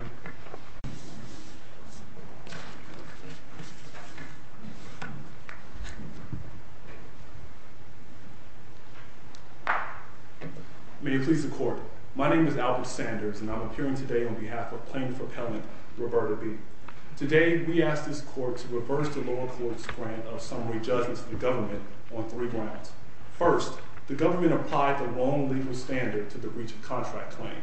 May it please the Court, my name is Albert Sanders and I'm appearing today on behalf of plaintiff appellant Roberta B. Today we ask this Court to reverse the lower court's grant of summary judgment to the government on three grounds. First, the government applied the wrong legal standard to the breach of contract claim.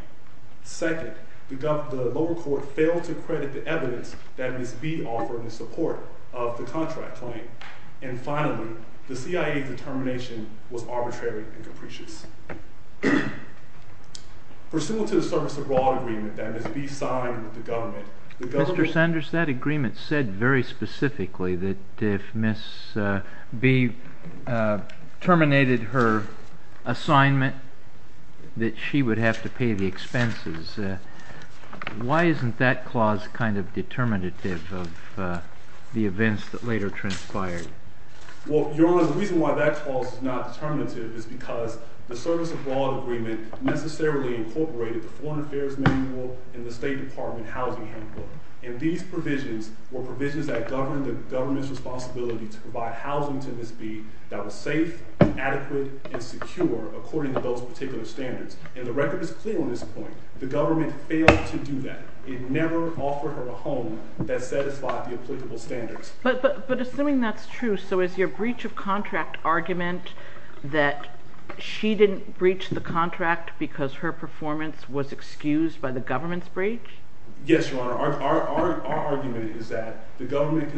Second, the lower court failed to credit the evidence that Ms. B offered in support of the contract claim. And finally, the CIA's determination was arbitrary and capricious. Pursuant to the service abroad agreement that Ms. B signed with the government, the government said very specifically that if Ms. B terminated her assignment that she would have to pay the expenses. Why isn't that clause kind of determinative of the events that later transpired? Well, Your Honor, the reason why that clause is not determinative is because the service abroad agreement necessarily incorporated the Foreign Affairs Manual and the State Department Housing Handbook. And these provisions were provisions that governed the government's responsibility to provide housing to Ms. B that was safe, adequate, and secure according to those particular standards. And the record is clear on this point. The government failed to do that. It never offered her a home that satisfied the applicable standards. But assuming that's true, so is your breach of contract argument that she didn't breach the contract because her performance was excused by the government's breach? Yes, Your Honor. Our argument is that the government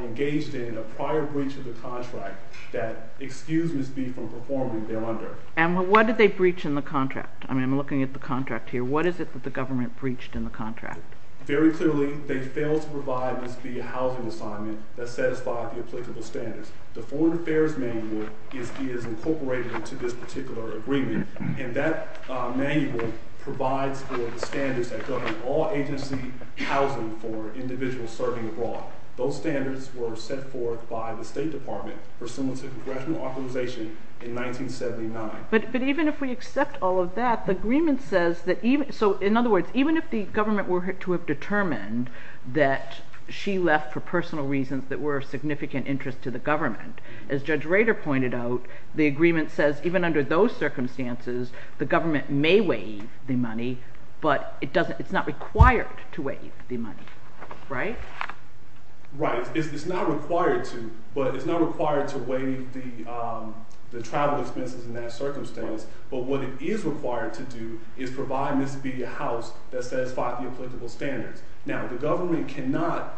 engaged in a prior breach of the contract that excused Ms. B from performing thereunder. And what did they breach in the contract? I mean, I'm looking at the contract here. What is it that the government breached in the contract? Very clearly, they failed to provide Ms. B a housing assignment that satisfied the applicable standards. The Foreign Affairs Manual is incorporated into this particular agreement. And that manual provides for the standards that govern all agency housing for individuals serving abroad. Those standards were set forth by the State Department pursuant to congressional authorization in 1979. But even if we accept all of that, the agreement says that even, so in other words, even if the government were to have determined that she left for personal reasons that were of no concern to the government, as Judge Rader pointed out, the agreement says even under those circumstances, the government may waive the money, but it's not required to waive the money, right? Right. It's not required to, but it's not required to waive the travel expenses in that circumstance. But what it is required to do is provide Ms. B a house that satisfied the applicable standards. Now, the government cannot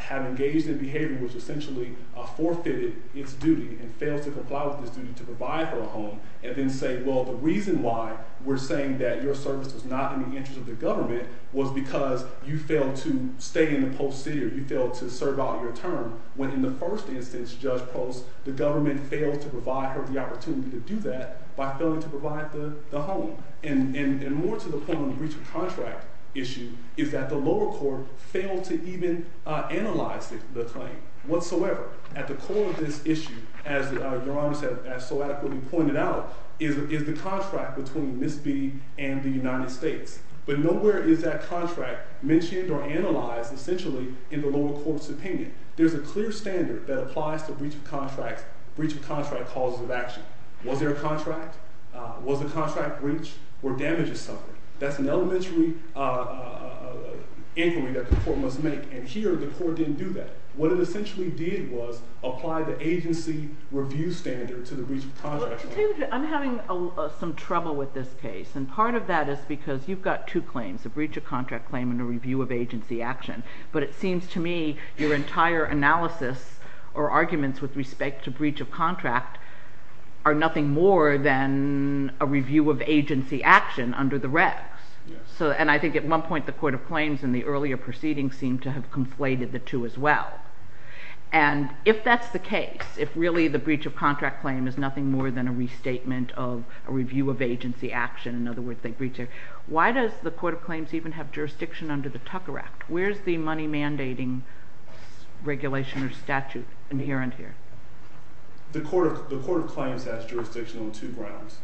have engaged in behavior which essentially forfeited its duty and failed to comply with its duty to provide her a home and then say, well, the reason why we're saying that your service was not in the interest of the government was because you failed to stay in the post city or you failed to serve out your term when in the first instance, Judge Post, the government failed to provide her the opportunity to do that by failing to provide the home. And more to the point on the breach of contract issue is that the lower court failed to even analyze the claim whatsoever. At the core of this issue, as Your Honor has so adequately pointed out, is the contract between Ms. B and the United States. But nowhere is that contract mentioned or analyzed essentially in the lower court's opinion. There's a clear standard that applies to breach of contract, breach of contract calls of action. Was there a contract? Was the contract breached? Were damages suffered? That's an elementary inquiry that the court must make. And here the court didn't do that. What it essentially did was apply the agency review standard to the breach of contract. I'm having some trouble with this case. And part of that is because you've got two claims, a breach of contract claim and a review of agency action. But it seems to me your entire analysis or arguments with respect to breach of contract are nothing more than a review of agency action under the regs. And I think at one point the Court of Claims in the earlier proceedings seemed to have conflated the two as well. And if that's the case, if really the breach of contract claim is nothing more than a restatement of a review of agency action, in other words they breached it, why does the Court of Claims even have jurisdiction under the Tucker Act? Where's the money mandating regulation or statute inherent here? The Court of Claims has jurisdiction on two grounds.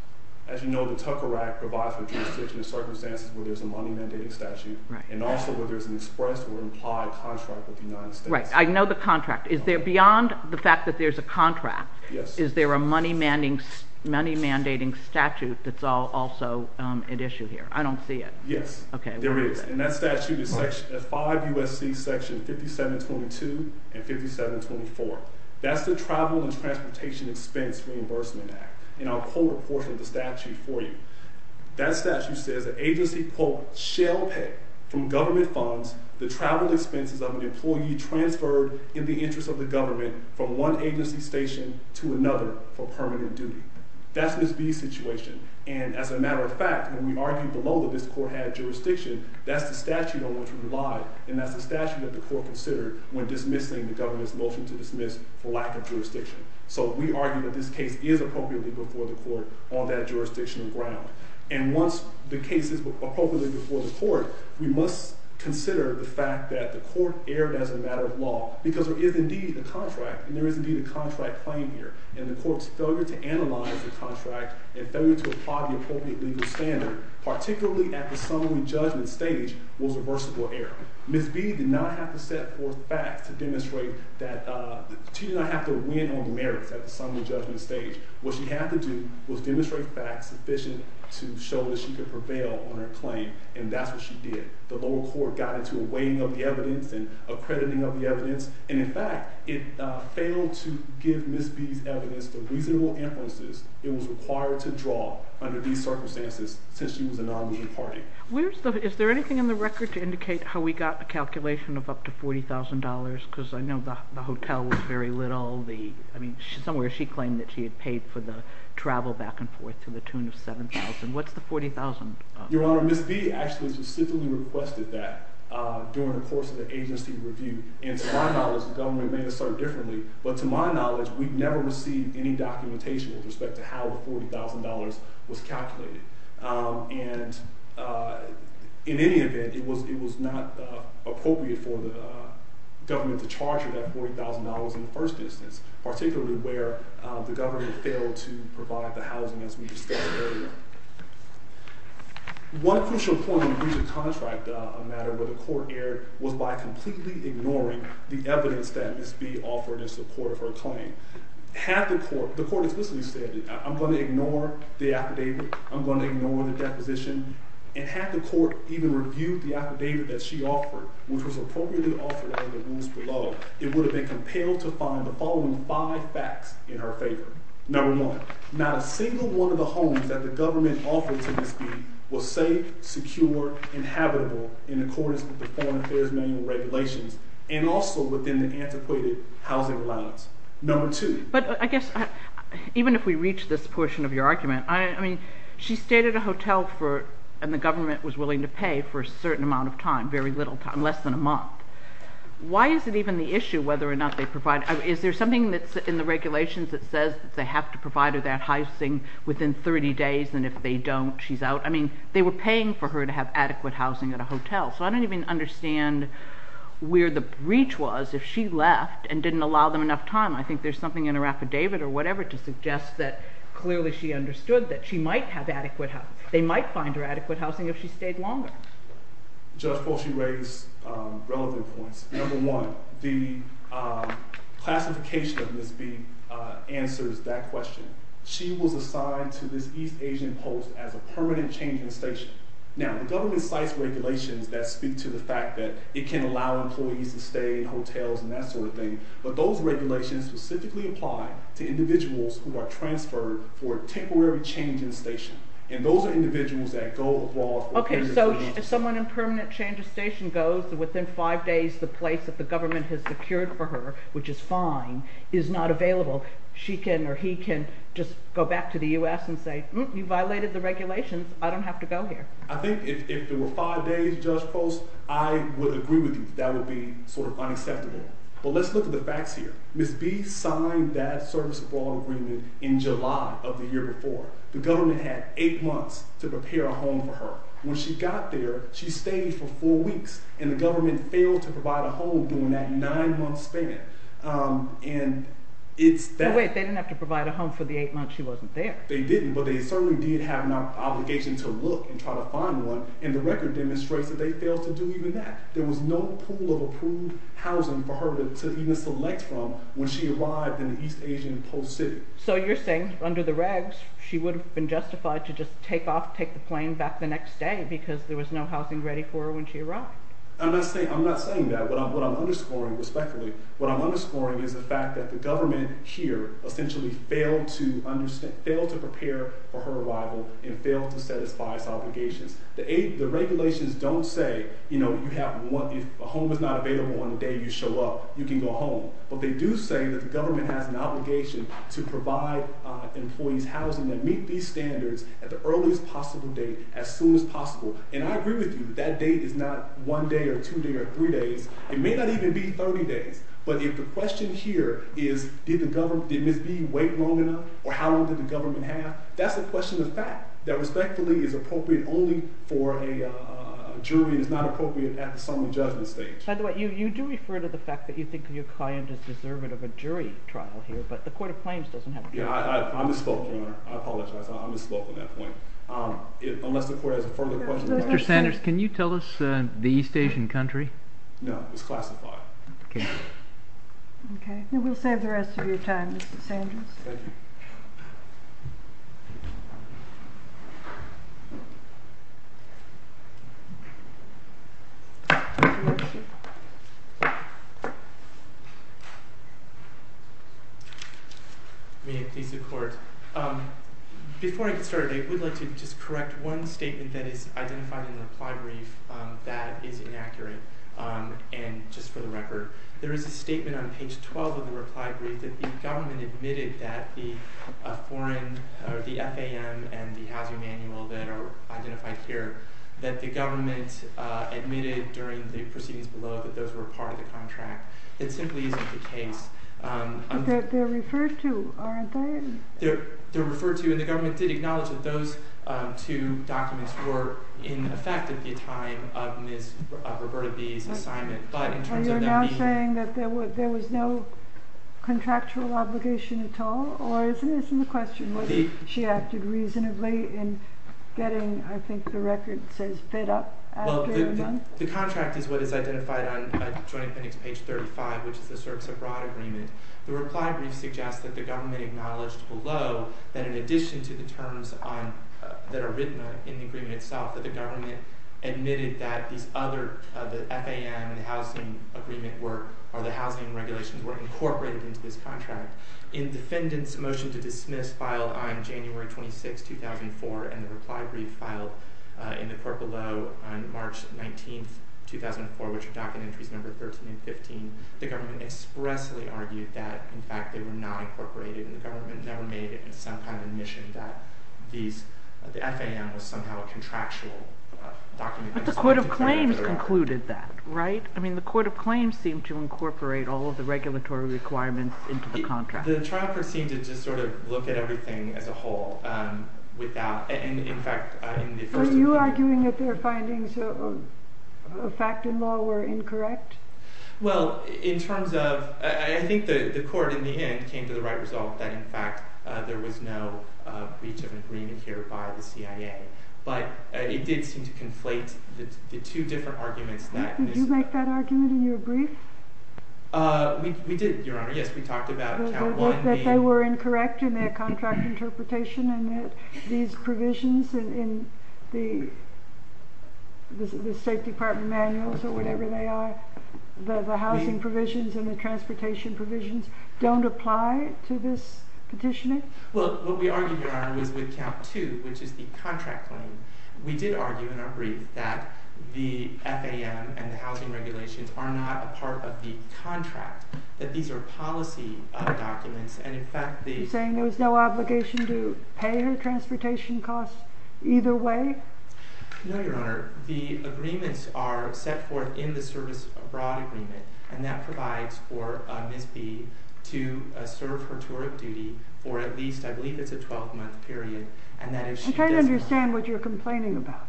As you know, the Tucker Act provides for jurisdiction in circumstances where there's a money mandating statute and also where there's an expressed or implied contract with the United States. Right. I know the contract. Is there beyond the fact that there's a contract, is there a money mandating statute that's also at issue here? I don't see it. Yes, there is. And that statute is 5 U.S.C. Section 5722 and 5724. That's the Travel and Transportation Expense Reimbursement Act. And I'll quote a portion of the statute for you. That statute says that agency quote, shall pay from government funds the travel expenses of an employee transferred in the interest of the government from one agency station to another for permanent duty. That's Ms. B's situation. And as a matter of fact, when we argued below that this court had jurisdiction, that's the statute on which we relied. And that's the statute that the court considered when dismissing the government's motion to dismiss for lack of jurisdiction. So we argue that this case is appropriately before the court on that jurisdictional ground. And once the case is appropriately before the court, we must consider the fact that the court erred as a matter of law because there is indeed a contract. And there is indeed a contract claim here. And the court's failure to analyze the contract and failure to apply the appropriate legal standard, particularly at the summary judgment stage, was a versatile error. Ms. B did not have to set forth facts to demonstrate that she did not have to win on the merits at the summary judgment stage. What she had to do was demonstrate facts sufficient to show that she could prevail on her claim. And that's what she did. The lower court got into a weighing of the evidence and accrediting of the evidence. And in fact, it failed to give Ms. B's evidence the reasonable inferences it was required to draw under these circumstances since she was a non-legal party. Is there anything in the record to indicate how we got a calculation of up to $40,000? Because I know the hotel was very little. I mean, somewhere she claimed that she had paid for the travel back and forth to the tune of $7,000. What's the $40,000? Your Honor, Ms. B actually specifically requested that during the course of the agency review. And to my knowledge, the government may assert differently, but to my knowledge, we've never received any documentation with respect to how the $40,000 was calculated. And in any event, it was not appropriate for the government to charge her that $40,000 in the first instance, particularly where the government failed to provide the housing as we discussed earlier. One crucial point in the breach of contract matter where the court erred was by completely ignoring the evidence that Ms. B offered in support of her claim. Had the court, the court explicitly said, I'm going to ignore the affidavit. I'm going to ignore the deposition. And had the court even reviewed the affidavit that she offered, which was appropriately offered under the rules below, it would have been five facts in her favor. Number one, not a single one of the homes that the government offered to Ms. B was safe, secure, and habitable in accordance with the Foreign Affairs Manual regulations and also within the antiquated housing allowance. Number two. But I guess even if we reach this portion of your argument, I mean, she stayed at a hotel for, and the government was willing to pay for a certain amount of time, very little time, less than a month. Why is it even the issue whether or not they provide, is there something that's in the regulations that says that they have to provide her that housing within 30 days and if they don't, she's out? I mean, they were paying for her to have adequate housing at a hotel. So I don't even understand where the breach was if she left and didn't allow them enough time. I think there's something in her affidavit or whatever to suggest that clearly she understood that she might have adequate, they might find her adequate housing if she stayed longer. Judge Poshy raised relevant points. Number one, the classification of Ms. B answers that question. She was assigned to this East Asian post as a permanent change in station. Now, the government cites regulations that speak to the fact that it can allow employees to stay in hotels and that sort of thing, but those regulations specifically apply to individuals who are transferred for a temporary change in station. And those are individuals that Okay, so if someone in permanent change of station goes within five days, the place that the government has secured for her, which is fine, is not available. She can or he can just go back to the U.S. and say, you violated the regulations. I don't have to go here. I think if there were five days, Judge Post, I would agree with you that would be sort of unacceptable. But let's look at the facts here. Ms. B signed that service abroad agreement in July of the year before. The government had eight months to prepare a home for her. When she got there, she stayed for four weeks, and the government failed to provide a home during that nine-month span. And it's that... Wait, they didn't have to provide a home for the eight months she wasn't there. They didn't, but they certainly did have an obligation to look and try to find one, and the record demonstrates that they failed to do even that. There was no pool of approved housing for her to even select from when she arrived in the East Asian post city. So you're saying under the regs, she would have been justified to just take off, take the plane back the next day because there was no housing ready for her when she arrived. I'm not saying that. What I'm underscoring, respectfully, what I'm underscoring is the fact that the government here essentially failed to prepare for her arrival and failed to satisfy its obligations. The regulations don't say, you know, if a home is not available on the day you show up, you can go home. But they do say that the government has an obligation to provide employees housing that meet these standards at the earliest possible date, as soon as possible. And I agree with you, that date is not one day or two days or three days. It may not even be 30 days. But if the question here is, did Ms. B wait long enough, or how long did the government have, that's a question of fact, that respectfully is appropriate only for a jury and is not appropriate at the summary judgment stage. By the way, you do refer to the fact that you think your client is deserving of a jury trial here, but the Court of Claims doesn't have... Yeah, I misspoke, Your Honor. I apologize. I misspoke on that point. Unless the Court has a further question... Mr. Sanders, can you tell us the East Asian country? No, it's classified. Okay. Okay, then we'll save the rest of your time, Mr. Sanders. Thank you. May it please the Court. Before I get started, I would like to just correct one statement that is identified in the reply brief that is inaccurate. And just for the record, there is a statement on page 12 of the reply brief that the government admitted that the foreign or the FAM and the housing manual that are identified here, that the government admitted during the proceedings below that those were part of the contract. It simply isn't the case. But they're referred to, aren't they? They're referred to, and the government did acknowledge that those two documents were in effect at the time of Ms. Roberta B.'s assignment, but in terms of that meeting... Are you now saying that there was no contractual obligation at all? Or isn't the question that she acted reasonably in getting, I think the record says, fed up after a month? The contract is what is identified on Joint Appendix page 35, which is the CERPS Abroad Agreement. The reply brief suggests that the government acknowledged below that in addition to the terms that are written in the agreement itself, that the government admitted that these other, the FAM and the housing agreement were, or the housing regulations were incorporated into this contract. In defendant's motion to dismiss filed on January 26, 2004, and which are document entries number 13 and 15, the government expressly argued that, in fact, they were not incorporated, and the government never made it into some kind of admission that the FAM was somehow a contractual document. But the Court of Claims concluded that, right? I mean, the Court of Claims seemed to incorporate all of the regulatory requirements into the contract. The trial court seemed to just sort of look at everything as a whole without, and in fact... Were you arguing that their findings of fact and law were incorrect? Well, in terms of... I think the court, in the end, came to the right result that, in fact, there was no breach of agreement here by the CIA. But it did seem to conflate the two different arguments that... Did you make that argument in your brief? We did, Your Honor. Yes, we talked about count one being... And that these provisions in the State Department manuals or whatever they are, the housing provisions and the transportation provisions, don't apply to this petitioning? Well, what we argued, Your Honor, was with count two, which is the contract claim. We did argue in our brief that the FAM and the housing regulations are not a part of the contract, that these are policy documents, and, in fact, the... Did you pay her transportation costs either way? No, Your Honor. The agreements are set forth in the Service Abroad Agreement, and that provides for Ms. B to serve her tour of duty for at least, I believe it's a 12-month period, and that is... I can't understand what you're complaining about.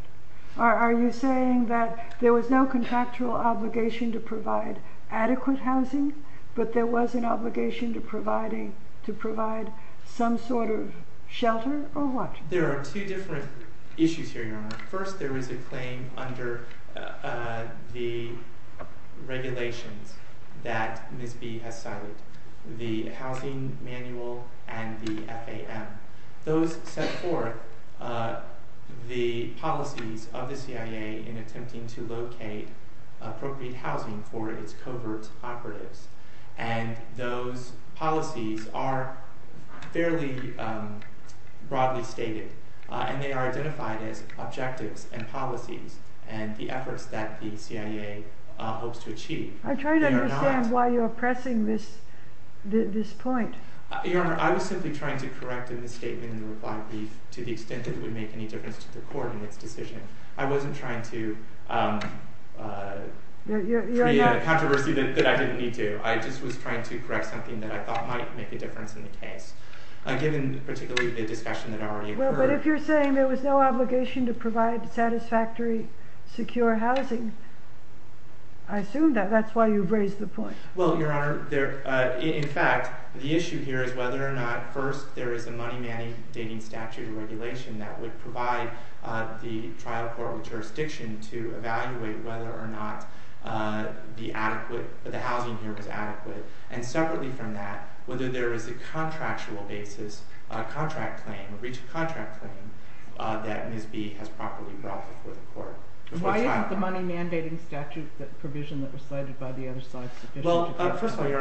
Are you saying that there was no contractual obligation to provide adequate housing, but there was an obligation to provide some sort of shelter, or what? There are two different issues here, Your Honor. First, there is a claim under the regulations that Ms. B has cited, the housing manual and the FAM. Those set forth the policies of the CIA in attempting to locate appropriate housing for its covert operatives, and those policies are fairly broadly stated, and they are identified as objectives and policies and the efforts that the CIA hopes to achieve. I'm trying to understand why you're pressing this point. Your Honor, I was simply trying to correct in the statement in the reply brief to the extent that it would make any difference to the Court in its decision. I wasn't trying to create a controversy that I didn't need to. I just was trying to correct something that I thought might make a difference in the case, given particularly the discussion that already occurred. Well, but if you're saying there was no obligation to provide satisfactory, secure housing, I assume that that's why you've raised the point. Well, Your Honor, in fact, the issue here is whether or not, first, there is a money mandating statute or regulation that would provide the trial court or jurisdiction to determine that, whether there is a contractual basis, a contract claim, a breach of contract claim, that Ms. B has properly brought before the court. Why isn't the money mandating statute that provision that was cited by the other side sufficient? Well, first of all, Your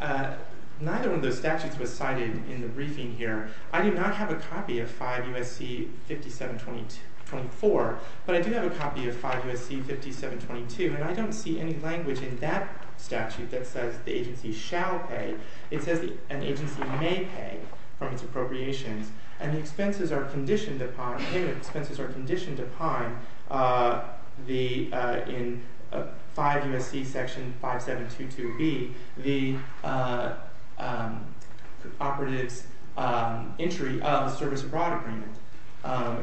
Honor, neither one of those statutes was cited in the briefing here. I do not have a copy of 5 U.S.C. 5724, but I do have a copy of 5 U.S.C. 5722, and I don't see any language in that statute that says the agency shall pay. It says an agency may pay from its appropriations, and the expenses are conditioned upon, payment expenses are conditioned upon, in 5 U.S.C. section 5722B, the operative's entry of the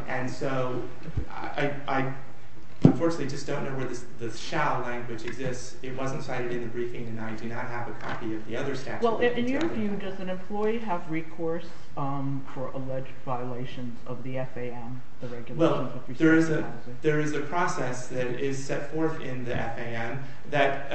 And so, I, unfortunately, just don't know where the shall language exists. It wasn't cited in the briefing, and I do not have a copy of the other statute. Well, in your view, does an employee have recourse for alleged violations of the FAM, the regulation? Well, there is a process that is set forth in the FAM that,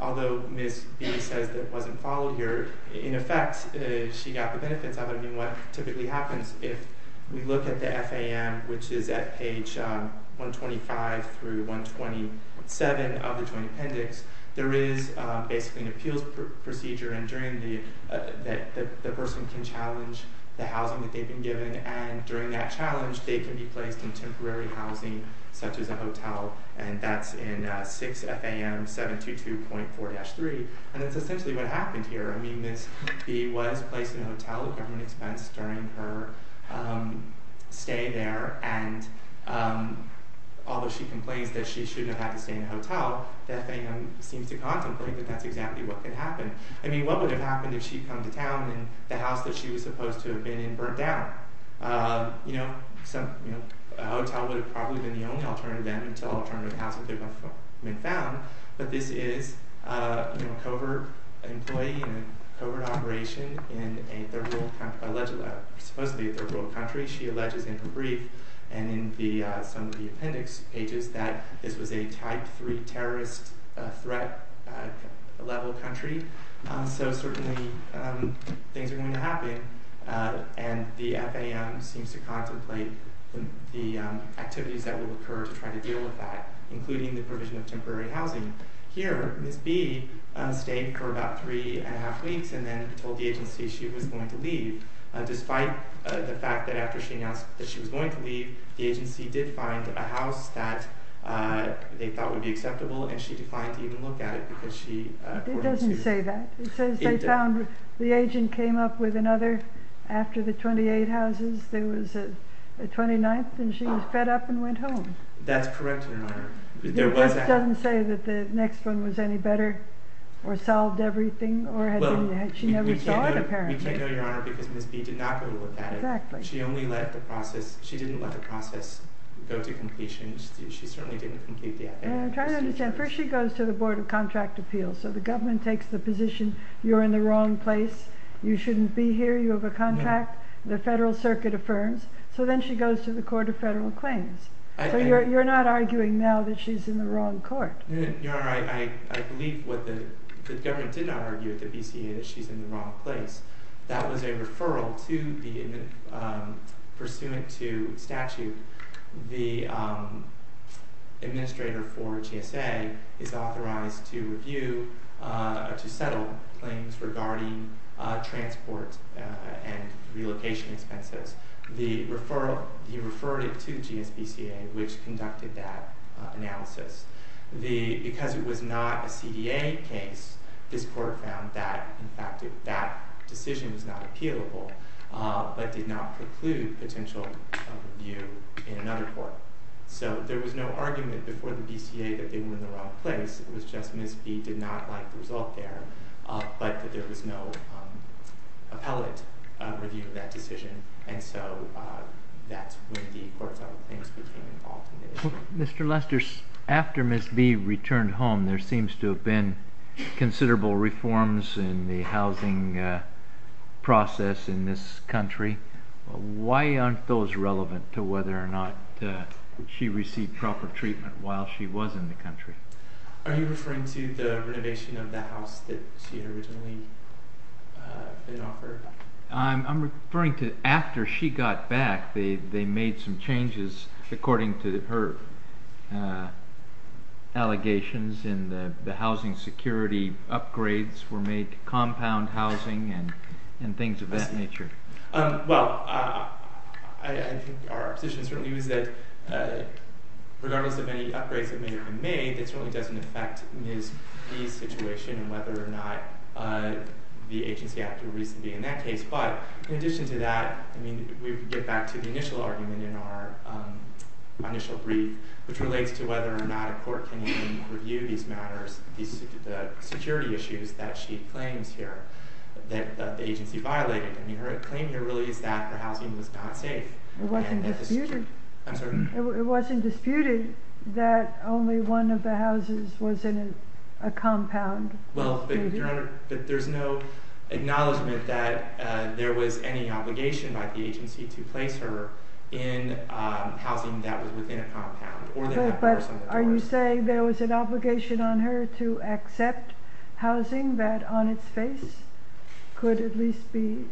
although Ms. B says it wasn't followed here, in effect, she got the benefits of it. I mean, what typically happens, if we look at the FAM, which is at page 125 through 127 of the Joint Appendix, there is basically an appeals procedure, and during the, the person can challenge the housing that they've been given, and during that challenge, they can be placed in temporary housing, such as a hotel, and that's in 6 FAM 722.4-3, and that's essentially what happened here. I mean, Ms. B was placed in a hotel at government expense during her stay there, and although she complains that she shouldn't have had to stay in a hotel, the FAM seems to contemplate that that's exactly what could happen. I mean, what would have happened if she'd come to town, and the house that she was supposed to have been in burnt down? You know, a hotel would have probably been the only alternative then, until alternative housing could have been found, but this is, you know, a covert employee in a covert operation in a third world country, allegedly, supposedly a third world country, she alleges in her brief, and in the, some of the appendix pages, that this was a type 3 terrorist threat level country, so certainly things are going to happen, and the FAM seems to contemplate the activities that will occur to try to deal with that, including the provision of temporary housing. Here, Ms. B stayed for about three and a half weeks, and then told the agency she was going to leave, despite the fact that after she announced that she was going to leave, the agency did find a house that they thought would be acceptable, and she declined to even look at it, because she... It doesn't say that. It says they found, the agent came up with another, after the 28 houses, there was a 29th, and she was fed up and went home. That's correct, Your Honor. This doesn't say that the next one was any better, or solved everything, or had been the, she never saw it, apparently. We can't know, Your Honor, because Ms. B did not go to look at it. Exactly. She only let the process, she didn't let the process go to completion, she certainly didn't complete the appendix. I'm trying to understand, first she goes to the Board of Contract Appeals, so the government takes the position you're in the wrong place, you shouldn't be here, you have a contract, the Federal Circuit affirms, so then she goes to the Court of Federal Claims. So you're not arguing now that she's in the wrong court. Your Honor, I believe what the, the government did not argue at the BCA, that she's in the wrong place. That was a referral to the, pursuant to statute, the administrator for GSA is authorized to review, to settle claims regarding transport and relocation expenses. The referral, he referred it to GSBCA, which conducted that analysis. The, because it was not a CDA case, this Court found that, in fact, that decision was not appealable, but did not preclude potential review in another court. So there was no argument before the BCA that they were in the wrong place, it was just Ms. B did not like the result there, but that there was no appellate review of that decision, and so that's when the Court of Federal Claims became involved in it. Mr. Lester, after Ms. B returned home, there seems to have been considerable reforms in the housing process in this country. Why aren't those relevant to whether or not she received proper treatment while she was in the country? Are you referring to the renovation of the house that she had originally been offered? I'm referring to after she got back, they made some changes, according to her allegations, in the housing security upgrades were made to compound housing and things of that nature. Well, I think our position certainly was that, regardless of any upgrades that may have been made, it certainly doesn't affect Ms. B's situation and whether or not the agency had a reason to be in that case, but in addition to that, we get back to the initial argument in our initial brief, which relates to whether or not a court can even review these matters, the security issues that she claims here, that the agency violated. Her claim here really is that her housing was not safe. It wasn't disputed that only one of the houses was in a compound. There's no acknowledgment that there was any obligation by the agency to place her in housing that was within a compound. Are you saying there was an obligation on her to accept housing that, on its face, could at least be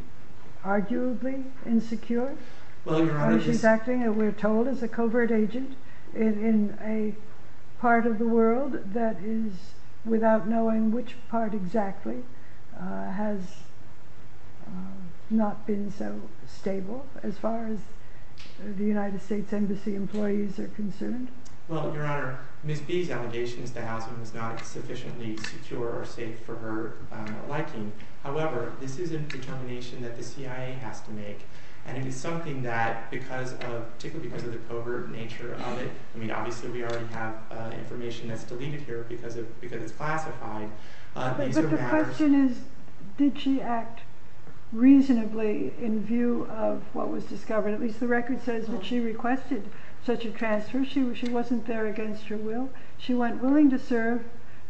arguably insecure? She's acting, we're told, as a covert agent in a part of the world that is, without knowing which part exactly, has not been so stable as far as the United States Embassy employees are concerned. Well, Your Honor, Ms. B's allegation is that housing was not sufficiently secure or safe for her liking. However, this is a determination that the CIA has to make, and it is something that, particularly because of the covert nature of it, I mean, obviously we already have information that's deleted here because it's classified. But the question is, did she act reasonably in view of what was discovered? At least the record says that she requested such a transfer. She wasn't there against her will. She went willing to serve,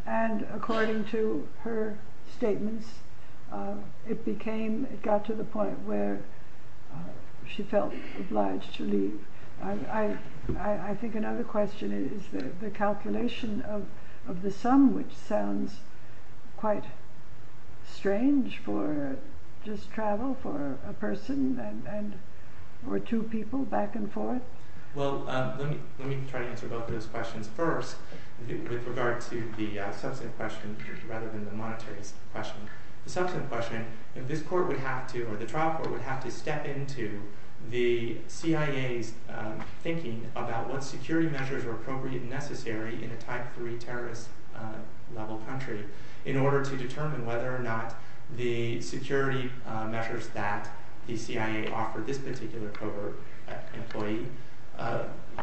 and according to her statements, it got to the point where she felt obliged to leave. I think another question is the calculation of the sum, which sounds quite strange for just travel for a person or two people back and forth. Well, let me try to answer both of those questions first with regard to the substantive question rather than the monetary question. The substantive question, if this court would have to, or the trial court would have to step into the CIA's thinking about what security measures are appropriate and necessary in a type three terrorist level country in order to determine whether or not the security measures that the CIA offered this particular covert employee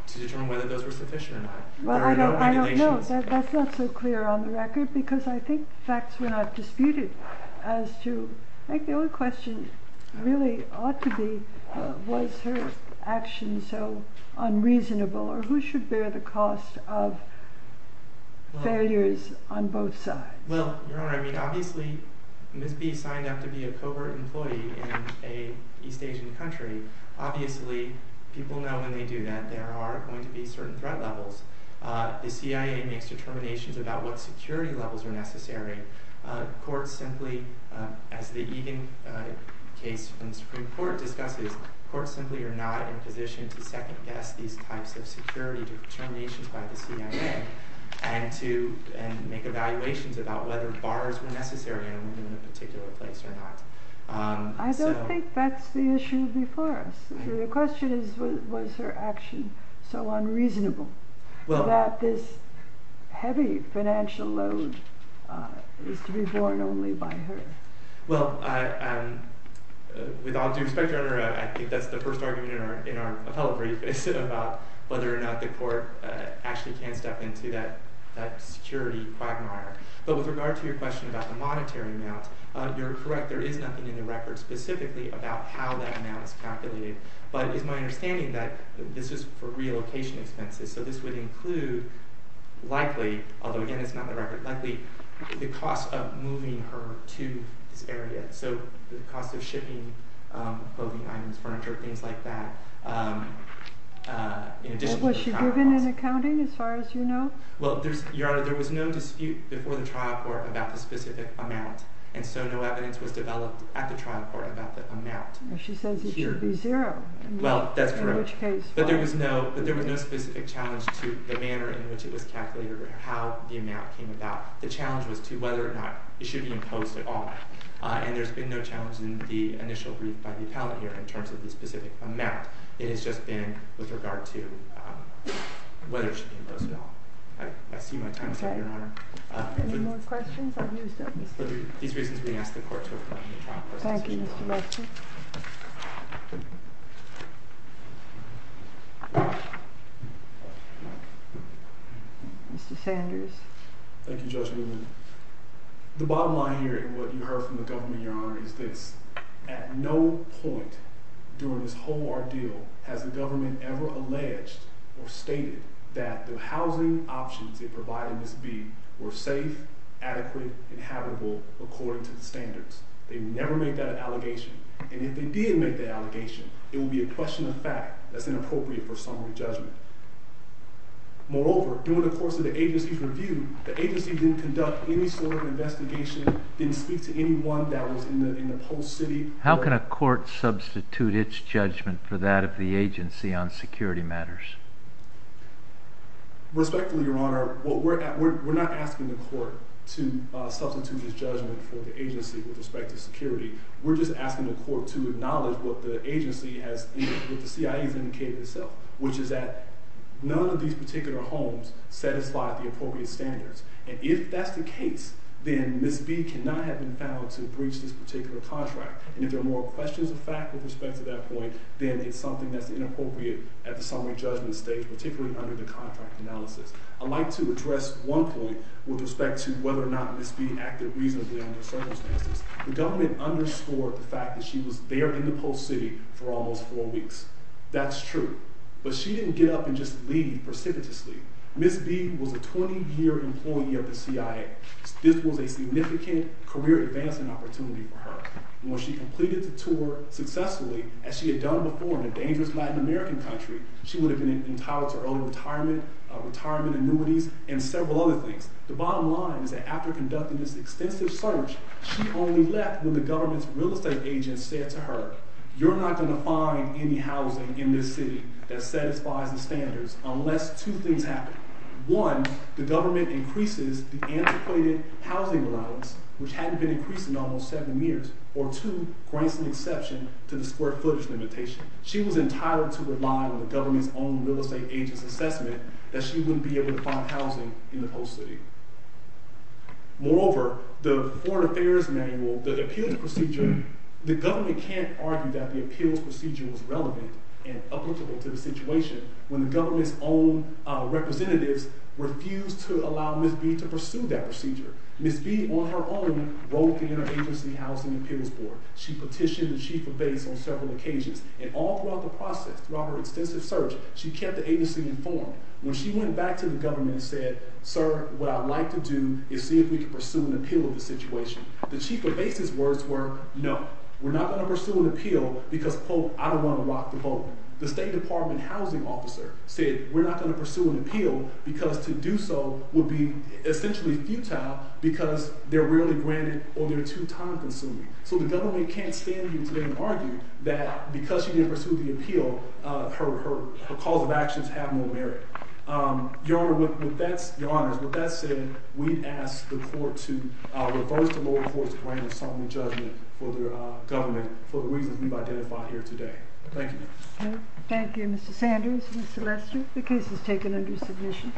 to determine whether those were sufficient or not. Well, I don't know. That's not so clear on the record because I think facts were not disputed as to, I think the only question really ought to be, was her action so unreasonable, or who should bear the cost of failures on both sides? Well, Your Honor, I mean obviously Ms. B signed up to be a covert employee in an East Asian country. Obviously, people know when they do that there are going to be certain threat levels. The CIA makes determinations about what security levels are necessary. Courts simply, as the Egan case from the Supreme Court discusses, courts simply are not in position to second guess these types of security determinations by the CIA and make evaluations about whether bars were necessary in a particular place or not. I don't think that's the issue before us. The question is, was her action so unreasonable that this heavy financial load is to be borne only by her? Well, with all due respect, Your Honor, I think that's the first argument in our appellate brief is about whether or not the court actually can step into that security quagmire. But with regard to your question about the monetary amount, you're correct, there is nothing in the record specifically about how that amount is calculated. But it's my understanding that this is for relocation expenses, so this would include likely, although again it's not in the record, likely the cost of moving her to this area. So the cost of shipping clothing items, furniture, things like that. Was she given an accounting as far as you know? Well, Your Honor, there was no dispute before the trial court about the specific amount and so no evidence was developed at the trial court about the amount. She says it should be zero. Well, that's correct. In which case. But there was no specific challenge to the manner in which it was calculated or how the amount came about. The challenge was to whether or not it should be imposed at all. And there's been no challenge in the initial brief by the appellate here in terms of the specific amount. It has just been with regard to whether it should be imposed at all. I see my time is up, Your Honor. Any more questions? For these reasons, we ask the court to approve the trial court's decision. Thank you, Mr. Lexham. Mr. Sanders. Thank you, Judge Newman. The bottom line here and what you heard from the government, Your Honor, is this. At no point during this whole ordeal has the government ever alleged or stated that the housing options it provided Ms. B were safe, adequate, and habitable according to the standards. They never made that allegation. And if they did make that allegation, it would be a question of fact. That's inappropriate for summary judgment. Moreover, during the course of the agency's review, the agency didn't conduct any sort of investigation, didn't speak to anyone that was in the post city. How can a court substitute its judgment for that of the agency on security matters? Respectfully, Your Honor, we're not asking the court to substitute its judgment for the agency with respect to security. We're just asking the court to acknowledge what the agency has indicated, what the CIA has indicated. None of these particular homes satisfy the appropriate standards. And if that's the case, then Ms. B cannot have been found to breach this particular contract. And if there are more questions of fact with respect to that point, then it's something that's inappropriate at the summary judgment stage, particularly under the contract analysis. I'd like to address one point with respect to whether or not Ms. B acted reasonably under circumstances. The government underscored the fact that she was there in the post city for almost four weeks. That's true. But she didn't get up and just leave precipitously. Ms. B was a 20-year employee of the CIA. This was a significant career advancement opportunity for her. When she completed the tour successfully, as she had done before in a dangerous Latin American country, she would have been entitled to early retirement, retirement annuities, and several other things. The bottom line is that after conducting this extensive search, she only left when the government's real estate agent said to her, you're not going to find any housing in this city that satisfies the standards unless two things happen. One, the government increases the antiquated housing allowance, which hadn't been increased in almost seven years. Or two, grants an exception to the square footage limitation. She was entitled to rely on the government's own real estate agent's assessment that she wouldn't be able to find housing in the post city. Moreover, the foreign affairs manual, the appeals procedure, the government can't argue that the appeals procedure was relevant and applicable to the situation when the government's own representatives refused to allow Ms. B to pursue that procedure. Ms. B on her own wrote the interagency housing appeals board. She petitioned the chief of base on several occasions. And all throughout the process, throughout her extensive search, she kept the agency informed. When she went back to the government and said, sir, what I'd like to do is see if we can pursue an appeal of the situation. The chief of base's words were, no, we're not going to pursue an appeal because, quote, I don't want to walk the boat. The state department housing officer said, we're not going to pursue an appeal because to do so would be essentially futile because they're rarely granted or they're too time consuming. So the government can't stand here today and argue that because she didn't pursue the appeal, her calls of actions have no merit. Your Honor, with that said, we ask the court to reverse the lower court's grand assembly judgment for the government for the reasons we've identified here today. Thank you. Thank you, Mr. Sanders. Ms. Selester, the case is taken under submission.